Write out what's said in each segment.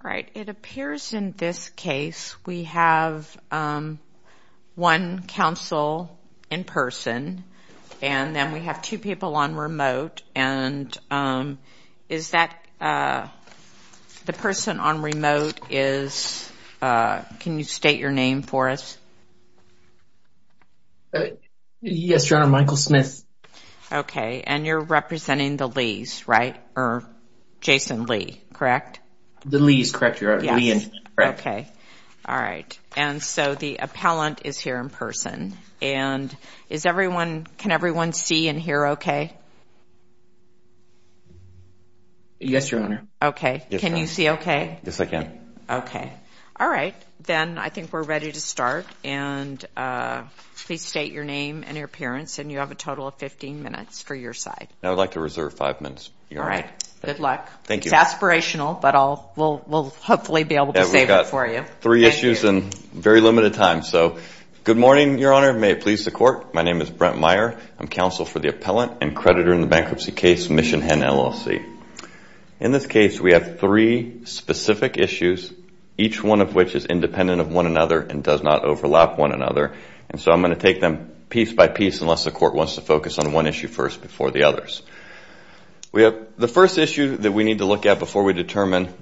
All right, it appears in this case we have one counsel in person and then we have two people on remote and is that the person on remote is, can you state your name for us? Yes, Your Honor, Michael Smith. Okay, and you're representing the Lees, right, or Jason Lee, correct? The Lees, correct, Your Honor. Okay, all right, and so the appellant is here in person and is everyone, can everyone see and hear okay? Yes, Your Honor. Okay, can you see okay? Yes, I can. Okay, all right, then I think we're ready to start and please state your name and your appearance and you have a total of 15 minutes for your side. I would like to reserve five minutes, Your Honor. All right, good luck. Thank you. It's aspirational, but we'll hopefully be able to save it for you. We've got three issues and very limited time, so good morning, Your Honor, may it please the court. My name is Brent Meyer. I'm counsel for the appellant and creditor in the bankruptcy case Mission Hen, LLC. In this case, we have three specific issues, each one of which is independent of one another and does not overlap one another, and so I'm going to take them piece by piece unless the court wants to focus on one issue first before the others. We have the first issue that we need to look at before we determine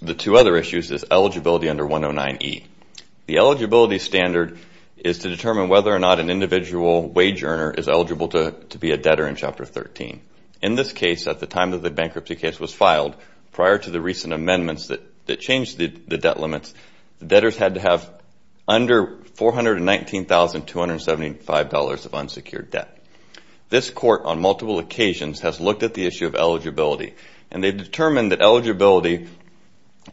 the two other issues is eligibility under 109E. The eligibility standard is to determine whether or not an individual wage earner is eligible to be a debtor in Chapter 13. In this case, at the time that the bankruptcy case was filed, prior to the recent amendments that changed the debt limits, debtors had to have under $419,275 of unsecured debt. This court, on multiple occasions, has looked at the issue of eligibility, and they've determined that eligibility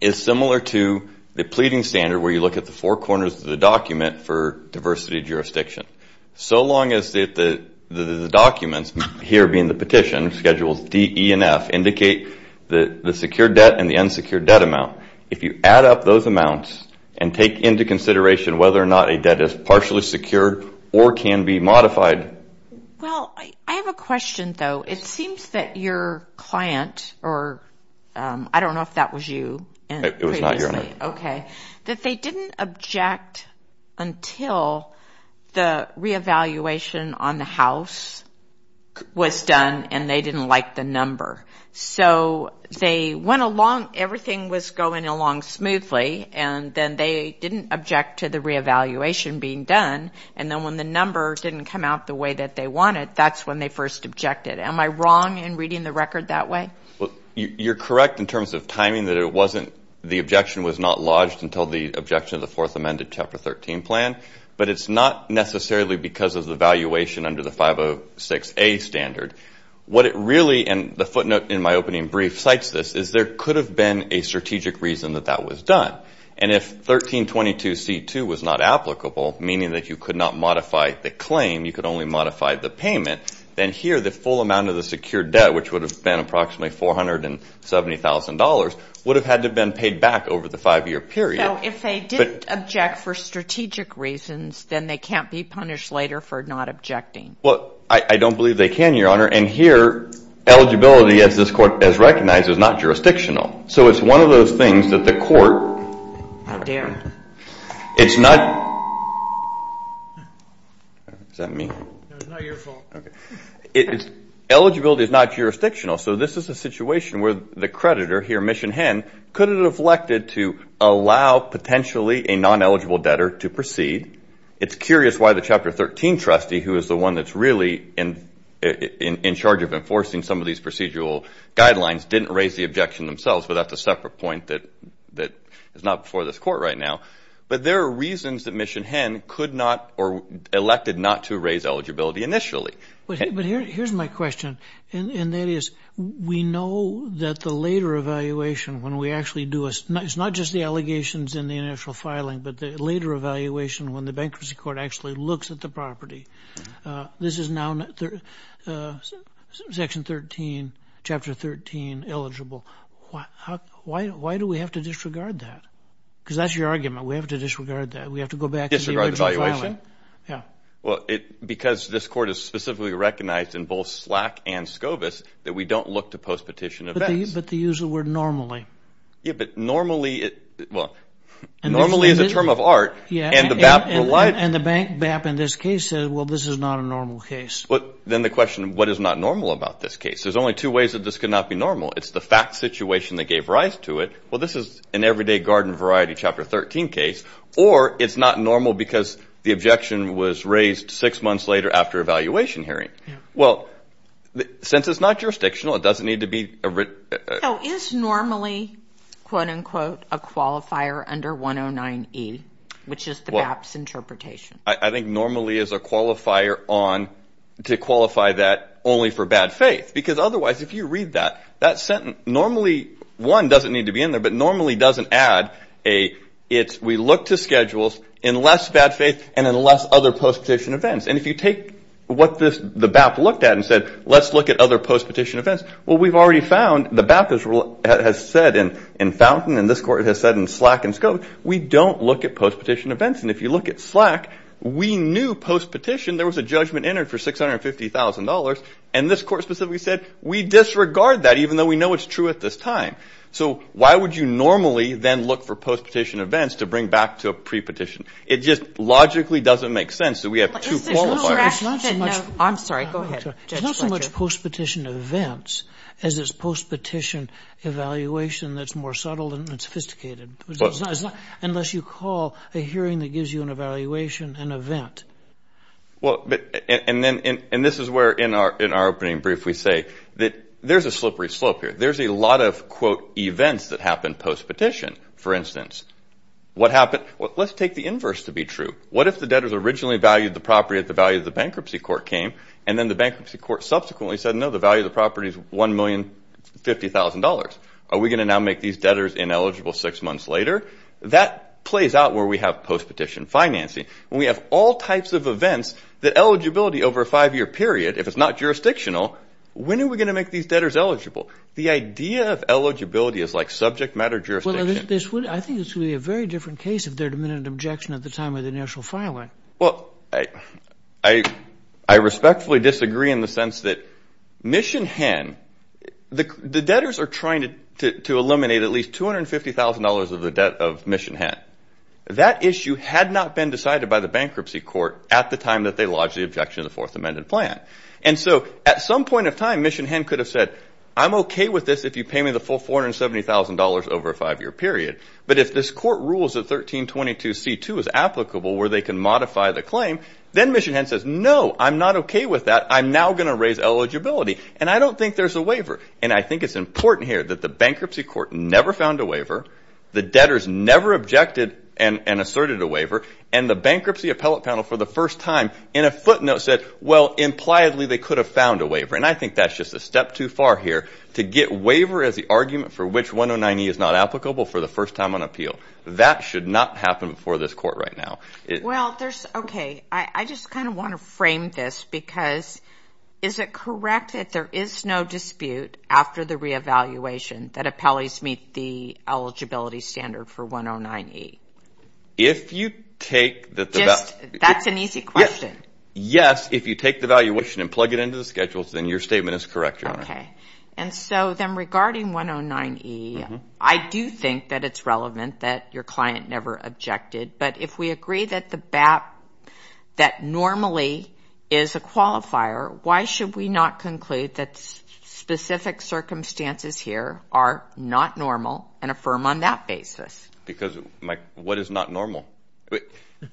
is similar to the pleading standard where you look at the four corners of the document for diversity jurisdiction. So long as the documents, here being the petition, Schedules D, E, and F, indicate that the secured debt and the unsecured debt amount, if you add up those amounts and take into consideration whether or not a debt is partially secured or can be modified... Well, I have a question, though. It seems that your client, or I don't know if that was you... It was not your client. Okay. That they didn't object until the re-evaluation on the house was done, and they didn't like the number. So they went along, everything was going along smoothly, and then they didn't object to the re-evaluation being done, and then when the number didn't come out the way that they wanted, that's when they first objected. Am I wrong in reading the record that way? Well, you're correct in terms of timing that it wasn't, the objection was not lodged until the objection of the fourth amended Chapter 13 plan, but it's not necessarily because of the valuation under the 506A standard. What it really, and the footnote in my opening brief cites this, is there could have been a strategic reason that that was done. And if 1322C2 was not applicable, meaning that you could not modify the claim, you could only modify the payment, then here the full amount of the secured debt, which would have been approximately $470,000, would have had to have been paid back over the five-year period. So if they didn't object for strategic reasons, then they can't be punished later for not objecting? Well, I don't believe they can, Your Honor, and here eligibility, as this court has recognized, is not jurisdictional. So it's one of those things that the court, it's not, eligibility is not jurisdictional, so this is a situation where the creditor here, Mission Hen, could have elected to allow potentially a non-eligible debtor to proceed. It's curious why the Chapter 13 trustee, who is the one that's really in charge of enforcing some of these procedural guidelines, didn't raise the objection themselves, but that's a separate point that is not before this court right now. But there are reasons that Mission Hen could not, or elected not to, raise eligibility initially. But here's my question, and that is, we know that the later evaluation, when we actually do a, it's not just the allegations in the initial filing, but the later evaluation, when the Bankruptcy Court actually looks at the property, this is now Section 13, Chapter 13, eligible. Why do we have to disregard that? Because that's your argument, we have to disregard that, we have to go back to the original filing. Yeah. Well, because this court has specifically recognized in both SLAC and SCOVIS that we don't look to post-petition events. But they use the word normally. Yeah, but normally, well, normally is a term of art, and the BAP relied. And the Bank, BAP in this case said, well, this is not a normal case. But then the question, what is not normal about this case? There's only two ways that this could not be normal. It's the fact situation that gave rise to it. Well, this is an everyday garden variety Chapter 13 case, or it's not normal because the objection was raised six months later after evaluation hearing. Well, since it's not jurisdictional, it doesn't need to be. Is normally, quote unquote, a qualifier under 109E, which is the BAP's interpretation? I think normally is a qualifier on, to qualify that only for bad faith. Because otherwise, if you read that, that sentence, normally, one, doesn't need to be in there, but normally doesn't add a, it's, we look to schedules in less bad faith and in less other post-petition events. And if you take what this, the BAP looked at and said, let's look at other post-petition events. Well, we've already found the BAP has said in Fountain and this court has said in Slack and Scope, we don't look at post-petition events. And if you look at Slack, we knew post-petition, there was a judgment entered for $650,000. And this court specifically said, we disregard that even though we know it's true at this time. So why would you normally then look for post-petition events to bring back to a pre-petition? It just logically doesn't make sense. So we have two qualifiers. I'm sorry, go ahead, Judge Fletcher. It's not so much post-petition events as it's post-petition evaluation that's more subtle and sophisticated, unless you call a hearing that gives you an evaluation an event. Well, and then, and this is where in our, in our opening brief, we say that there's a slippery slope here. There's a lot of quote, events that happened post-petition, for instance. What happened? Well, let's take the inverse to be true. What if the debtors originally valued the property at the value of the bankruptcy court came, and then the bankruptcy court subsequently said, no, the value of the property is $1,050,000. Are we going to now make these debtors ineligible six months later? That plays out where we have post-petition financing. When we have all types of events that eligibility over a five-year period, if it's not jurisdictional, when are we going to make these debtors eligible? The idea of eligibility is like subject matter jurisdiction. I think this would be a very different case if there had been an objection at the time of the initial filing. Well, I, I, I respectfully disagree in the sense that Mission Hen, the, the debtors are trying to, to, to eliminate at least $250,000 of the debt of Mission Hen. That issue had not been decided by the bankruptcy court at the time that they lodged the objection to the fourth amended plan. And so at some point of time, Mission Hen could have said, I'm okay with this if you pay me the full $470,000 over a five-year period. But if this court rules that 1322 C2 is applicable where they can modify the claim, then Mission Hen says, no, I'm not okay with that. I'm now going to raise eligibility. And I don't think there's a waiver. And I think it's important here that the bankruptcy court never found a waiver. The debtors never objected and, and asserted a waiver. And the bankruptcy appellate panel for the first time in a footnote said, well, impliedly they could have found a waiver. And I think that's just a step too far here to get waiver as the argument for which 109E is not applicable for the first time on appeal. That should not happen before this court right now. Well, there's, okay. I just kind of want to frame this because is it correct that there is no dispute after the re-evaluation that appellees meet the eligibility standard for 109E? If you take that, that's an easy question. Yes. If you take the valuation and plug it into the schedules, then your statement is correct, Your Honor. Okay. And so then regarding 109E, I do think that it's relevant that your client never objected, but if we agree that the BAP, that normally is a qualifier, why should we not conclude that specific circumstances here are not normal and affirm on that basis? Because what is not normal?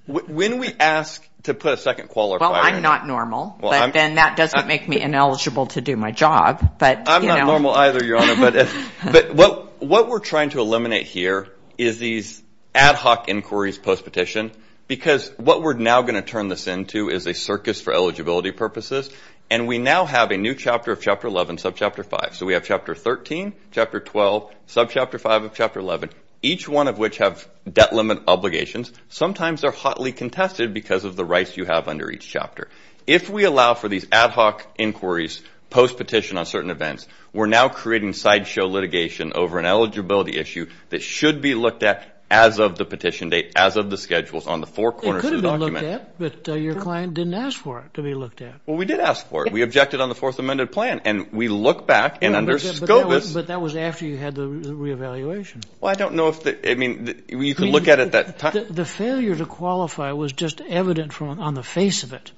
When we ask to put a second qualifier. Well, I'm not normal, but then that doesn't make me ineligible to do my job. I'm not normal either, Your Honor, but what we're trying to eliminate here is these ad hoc inquiries post-petition, because what we're now going to turn this into is a circus for eligibility purposes. And we now have a new chapter of chapter 11, sub-chapter 5. So we have chapter 13, chapter 12, sub-chapter 5 of chapter 11, each one of which have debt limit obligations. Sometimes they're hotly contested because of the rights you have under each chapter. If we allow for these ad hoc inquiries post-petition on certain events, we're now creating sideshow litigation over an eligibility issue that should be looked at as of the petition date, as of the schedules on the four corners of the document. It could have been looked at, but your client didn't ask for it to be looked at. Well, we did ask for it. We objected on the fourth amended plan and we look back and under SCOBUS. But that was after you had the re-evaluation. Well, I don't know if the, I mean, you can look at it at that time. The failure to qualify was just evident from on the face of it.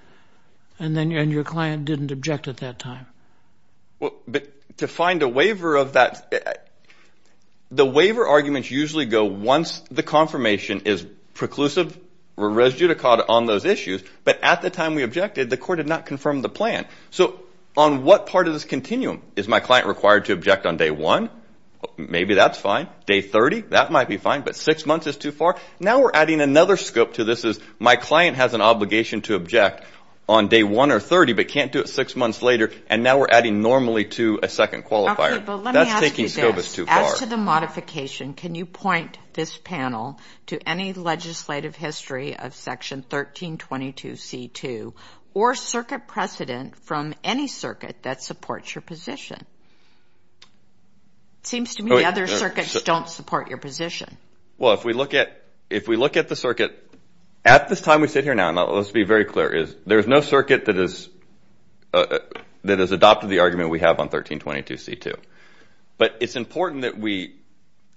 And then, and your client didn't object at that time. Well, but to find a waiver of that, the waiver arguments usually go once the confirmation is preclusive or res judicata on those issues, but at the time we objected, the court did not confirm the plan. So on what part of this continuum is my client required to object on day one? Maybe that's fine. Day 30, that might be fine, but six months is too far. Now we're adding another scope to this is my client has an obligation to object. On day one or 30, but can't do it six months later. And now we're adding normally to a second qualifier. But let me ask you this, as to the modification, can you point this panel to any legislative history of section 1322 C2 or circuit precedent from any circuit that supports your position? Seems to me the other circuits don't support your position. Well, if we look at, if we look at the circuit at this time, we sit here now let's be very clear is there's no circuit that is, uh, that has adopted the argument we have on 1322 C2, but it's important that we,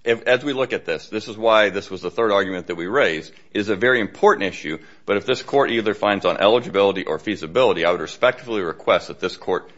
as we look at this, this is why this was the third argument that we raised is a very important issue. But if this court either finds on eligibility or feasibility, I would respectfully request that this court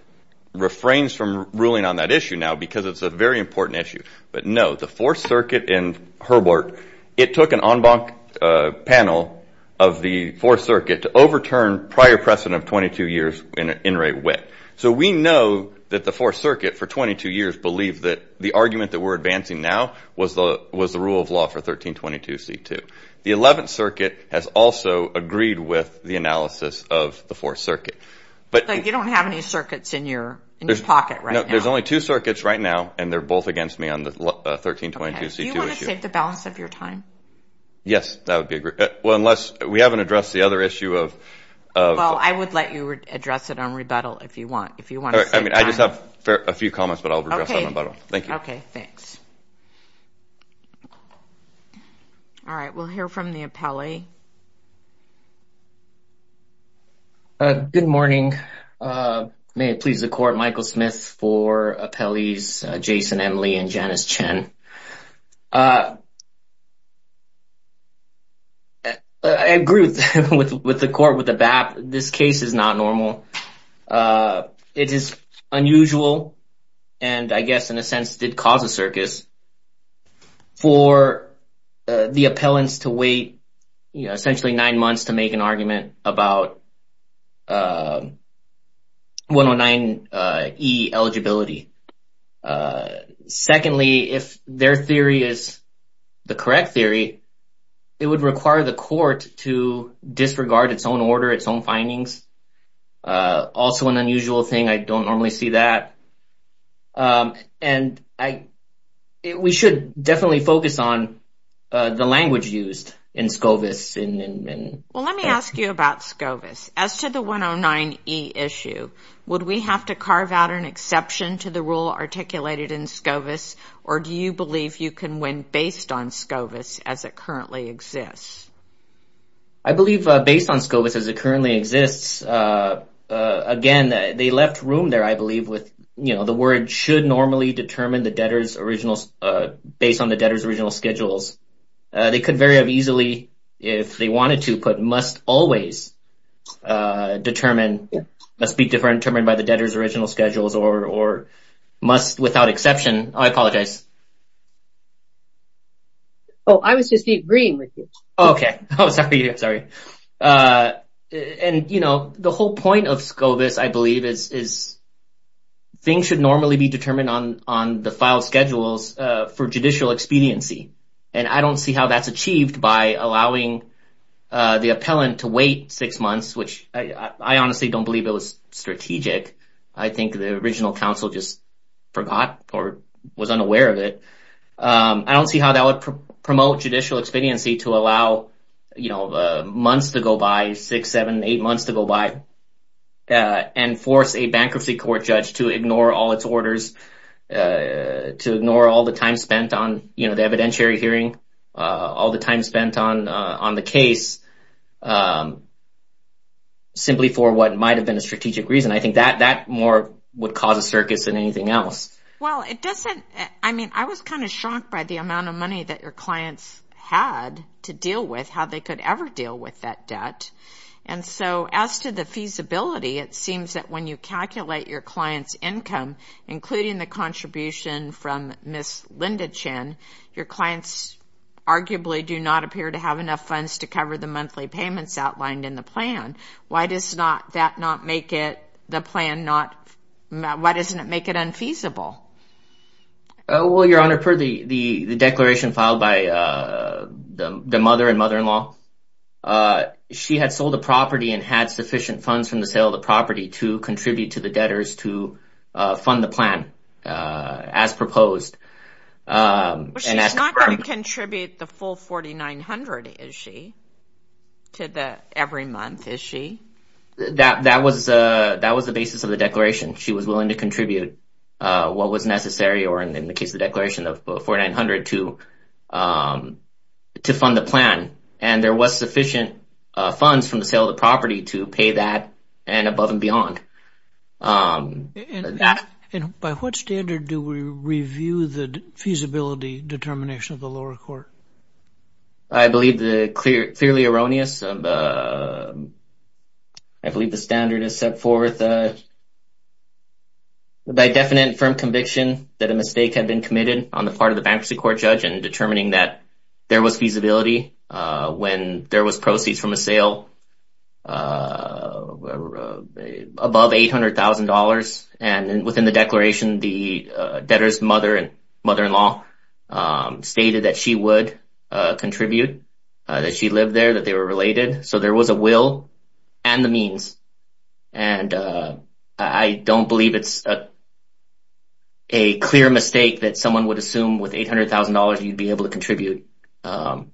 refrains from ruling on that issue now, because it's a very important issue, but no, the fourth circuit in Herbert, it took an en banc, uh, panel of the fourth circuit to overturn prior precedent of 22 years in in rate wit. So we know that the fourth circuit for 22 years, believe that the argument that we're advancing now was the, was the rule of law for 1322 C2. The 11th circuit has also agreed with the analysis of the fourth circuit. But you don't have any circuits in your pocket, right? No, there's only two circuits right now. And they're both against me on the 1322 C2 issue. Do you want to save the balance of your time? Yes, that would be a great, well, unless we haven't addressed the other issue of, of, I would let you address it on rebuttal if you want, if you want. I mean, I just have a few comments, but I'll address on rebuttal. Thank you. Okay. Thanks. All right. We'll hear from the appellee. Uh, good morning. Uh, may it please the court, Michael Smith for appellees, Jason Emily and Janice Chen. Uh, I agree with, with, with the court, with the BAP. This case is not normal. Uh, it is unusual. And I guess in a sense did cause a circus for the appellants to wait, you know, essentially nine months to make an argument about, uh, 109E eligibility. Uh, secondly, if their theory is the correct theory, it would require the court to disregard its own order, its own findings. Uh, also an unusual thing. I don't normally see that. Um, and I, we should definitely focus on, uh, the language used in SCOVIS in, in, in. Well, let me ask you about SCOVIS as to the 109E issue. Would we have to carve out an exception to the rule articulated in SCOVIS or do you believe you can win based on SCOVIS as it currently exists? I believe, uh, based on SCOVIS as it currently exists, uh, uh, again, they left room there, I believe with, you know, the word should normally determine the debtor's original, uh, based on the debtor's original schedules. Uh, they could vary up easily if they wanted to, but must always, uh, determine, must be determined by the debtor's original schedules or, or must without exception, I apologize. Oh, I was just agreeing with you. Oh, sorry. Sorry. Uh, and you know, the whole point of SCOVIS I believe is, is things should normally be determined on, on the file schedules, uh, for judicial expediency. And I don't see how that's achieved by allowing, uh, the appellant to wait six months, which I honestly don't believe it was strategic. I think the original counsel just forgot or was unaware of it. Um, I don't see how that would promote judicial expediency to allow, you know, the months to go by six, seven, eight months to go by, uh, and force a bankruptcy court judge to ignore all its orders, uh, to ignore all the time spent on, you know, the evidentiary hearing, uh, all the time spent on, uh, on the case. Um, simply for what might've been a strategic reason. I think that, that more would cause a circus than anything else. Well, it doesn't, I mean, I was kind of shocked by the amount of money that your clients had to deal with how they could ever deal with that debt. And so as to the feasibility, it seems that when you calculate your client's income, including the contribution from Ms. Linda Chen, your clients arguably do not appear to have enough funds to cover the monthly payments outlined in the plan. Why does not that not make it the plan? Not, why doesn't it make it unfeasible? Oh, well, your honor, for the, the, the declaration filed by, uh, the, the mother and mother-in-law, uh, she had sold a property and had sufficient funds from the sale of the property to contribute to the debtors to, uh, fund the plan, uh, as proposed, um, contribute the full 4,900. Is she to the every month? Is she, that, that was, uh, that was the basis of the declaration. She was willing to contribute, uh, what was necessary or in the case of the declaration of 4,900 to, um, to fund the plan. And there was sufficient, uh, funds from the sale of the property to pay that and above and beyond. Um, and by what standard do we review the feasibility determination of the lower court? I believe the clear, clearly erroneous, uh, I believe the standard is set forth, uh, by definite firm conviction that a mistake had been committed on the part of the bankruptcy court judge and determining that there was feasibility, uh, when there was proceeds from a sale, uh, above $800,000. And within the declaration, the debtor's mother and mother-in-law, um, stated that she would, uh, contribute, uh, that she lived there, that they were related. So there was a will and the means. And, uh, I don't believe it's a clear mistake that someone would assume with $800,000, you'd be able to contribute, um,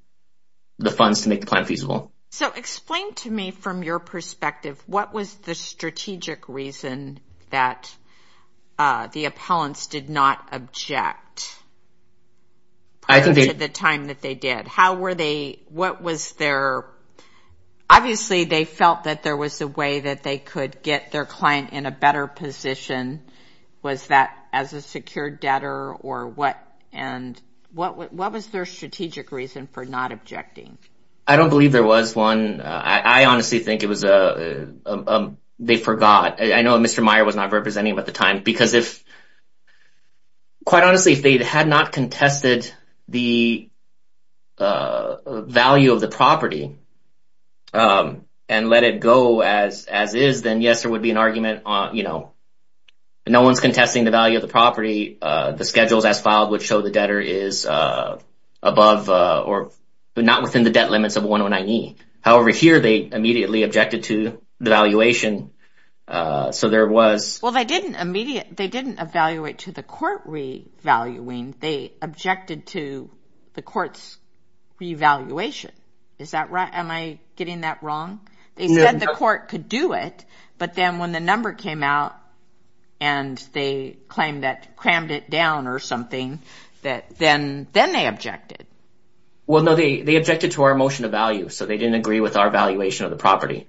the funds to make the plan feasible. So explain to me from your perspective, what was the strategic reason that, uh, the appellants did not object? I think they... At the time that they did, how were they, what was their, obviously they felt that there was a way that they could get their client in a better position. Was that as a secure debtor or what, and what, what was their strategic reason for not objecting? I don't believe there was one. Uh, I honestly think it was, uh, um, um, they forgot. I know Mr. Meyer was not representing him at the time because if, quite honestly, if they had not contested the, uh, value of the property, um, and let it go as, as is, then yes, there would be an argument on, you know, no one's contesting the value of the property. Uh, the schedules as filed would show the debtor is, uh, above, uh, or not within the debt limits of 109E. However, here they immediately objected to the valuation. Uh, so there was... Well, they didn't immediately, they didn't evaluate to the court revaluing. They objected to the court's revaluation. Is that right? Am I getting that wrong? They said the court could do it, but then when the number came out and they claimed that crammed it down or something that then, then they objected. Well, no, they, they objected to our motion of value. So they didn't agree with our valuation of the property.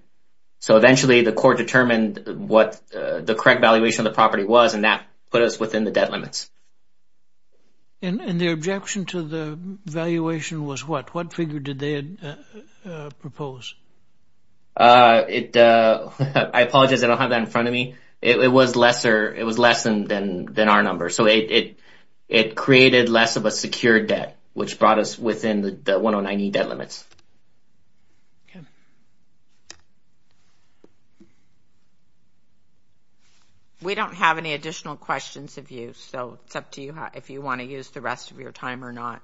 So eventually the court determined what the correct valuation of the property was, and that put us within the debt limits. And the objection to the valuation was what, what figure did they propose? Uh, it, uh, I apologize. I don't have that in front of me. It was lesser, it was less than, than, than our number. So it, it, it created less of a secure debt, which brought us within the 109E debt limits. Okay. We don't have any additional questions of you, so it's up to you how, if you want to use the rest of your time or not.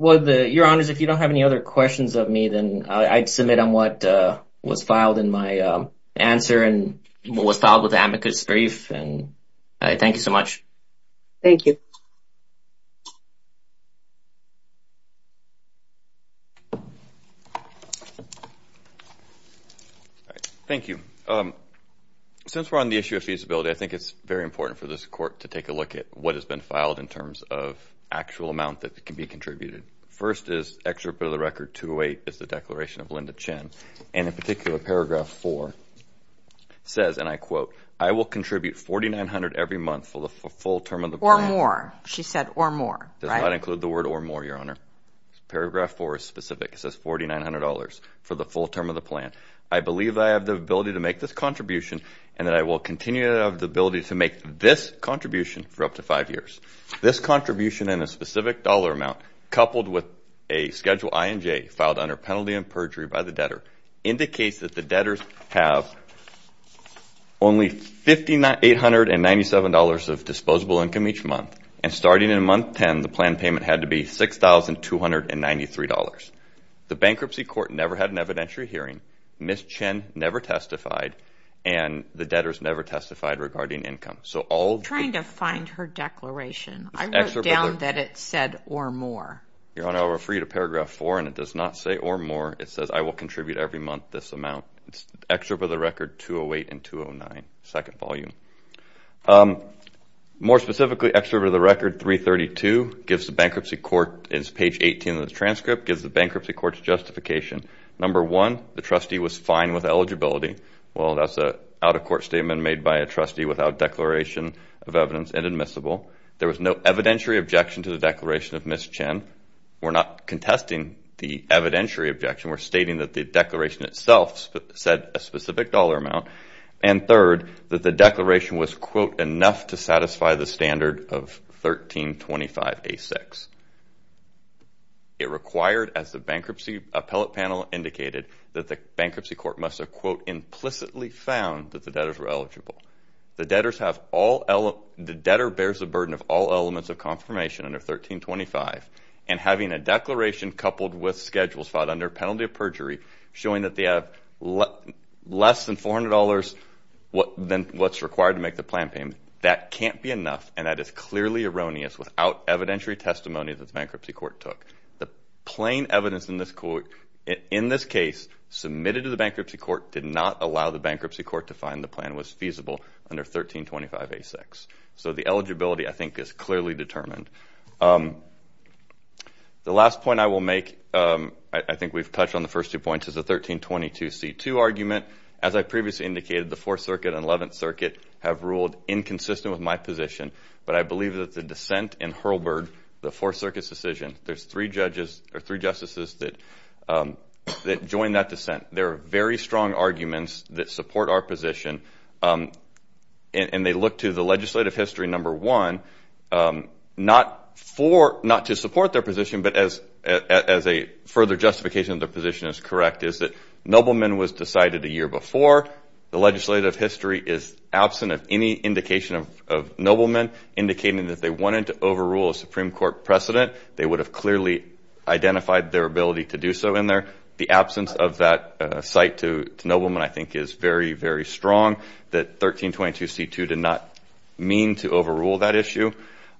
Well, the, your honors, if you don't have any other questions of me, then I'd submit on what, uh, was filed in my, um, answer and what was filed with the amicus brief. And I thank you so much. Thank you. Thank you. Um, since we're on the issue of feasibility, I think it's very important for this court to take a look at what has been filed in terms of actual amount that can be contributed. First is extra bit of the record, 208 is the declaration of Linda Chen. And in particular, paragraph four says, and I quote, I will contribute 4,900 every month for the full term of the plan. Or more. She said, or more. Does not include the word or more, your honor. Paragraph four is specific. It says $4,900 for the full term of the plan. I believe I have the ability to make this contribution and that I will continue to have the ability to make this contribution for up to five years. This contribution in a specific dollar amount coupled with a schedule I and J filed under penalty and perjury by the debtor indicates that the debtors have only $5,897 of disposable income each month. And starting in month 10, the plan payment had to be $6,293. The bankruptcy court never had an evidentiary hearing. Ms. Chen never testified and the debtors never testified regarding income. So all... Trying to find her declaration. I wrote down that it said, or more. Your honor, I'll refer you to paragraph four and it does not say or more. It says, I will contribute every month this amount. It's extra bit of the record, 208 and 209, second volume. More specifically, extra bit of the record 332 gives the bankruptcy court, it's page 18 of the transcript, gives the bankruptcy court's justification. Number one, the trustee was fine with eligibility. Well, that's a out of court statement made by a trustee without declaration of evidence and admissible. There was no evidentiary objection to the declaration of Ms. Chen. We're not contesting the evidentiary objection. We're stating that the declaration itself said a specific dollar amount. And third, that the declaration was, quote, enough to satisfy the standard of 1325A6. It required, as the bankruptcy appellate panel indicated, that the bankruptcy court must have, quote, implicitly found that the debtors were eligible. The debtors have all... The debtor bears the burden of all elements of confirmation under 1325 and having a declaration coupled with schedules filed under penalty of perjury showing that they have less than $400 than what's required to make the plan payment. That can't be enough and that is clearly erroneous without evidentiary testimony that the bankruptcy court took. The plain evidence in this case submitted to the bankruptcy court did not allow the bankruptcy court to find the plan was feasible under 1325A6. So the eligibility, I think, is clearly determined. The last point I will make, I think we've touched on the first two points, is the 1322C2 argument. As I previously indicated, the Fourth Circuit and Eleventh Circuit have ruled inconsistent with my position, but I believe that the dissent in Hurlburg, the Fourth Circuit's decision, there's three judges or three justices that joined that dissent. There are very strong arguments that support our position and they look to the not to support their position, but as a further justification of their position is correct, is that Nobleman was decided a year before. The legislative history is absent of any indication of Nobleman indicating that they wanted to overrule a Supreme Court precedent. They would have clearly identified their ability to do so in there. The absence of that site to Nobleman, I think, is very, very strong that 1322C2 did not mean to overrule that issue.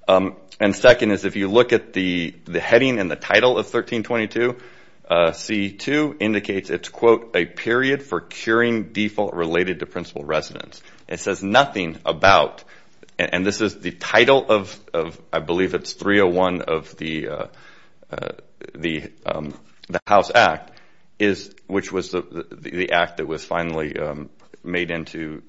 And second is, if you look at the heading and the title of 1322C2, indicates it's quote, a period for curing default related to principal residence. It says nothing about, and this is the title of, I believe it's 301 of the House Act, which was the act that was finally made into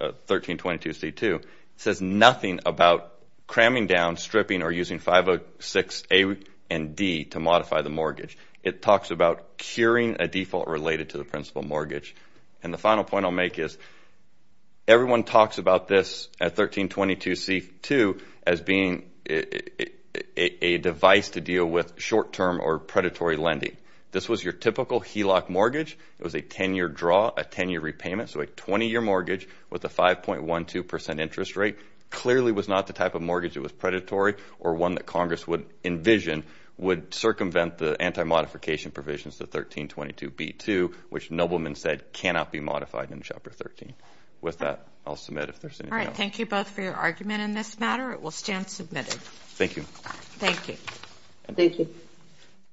1322C2. It says nothing about cramming down, stripping, or using 506A and D to modify the mortgage. It talks about curing a default related to the principal mortgage. And the final point I'll make is, everyone talks about this at 1322C2 as being a device to deal with short-term or predatory lending. This was your typical HELOC mortgage. It was a 10-year draw, a 10-year repayment, so a 20-year mortgage with a 5.12% interest rate, clearly was not the type of mortgage that was predatory or one that Congress would envision would circumvent the anti-modification provisions to 1322B2, which Nobleman said cannot be modified in Chapter 13. With that, I'll submit if there's anything else. All right. Thank you both for your argument in this matter. It will stand submitted. Thank you. Thank you. Thank you.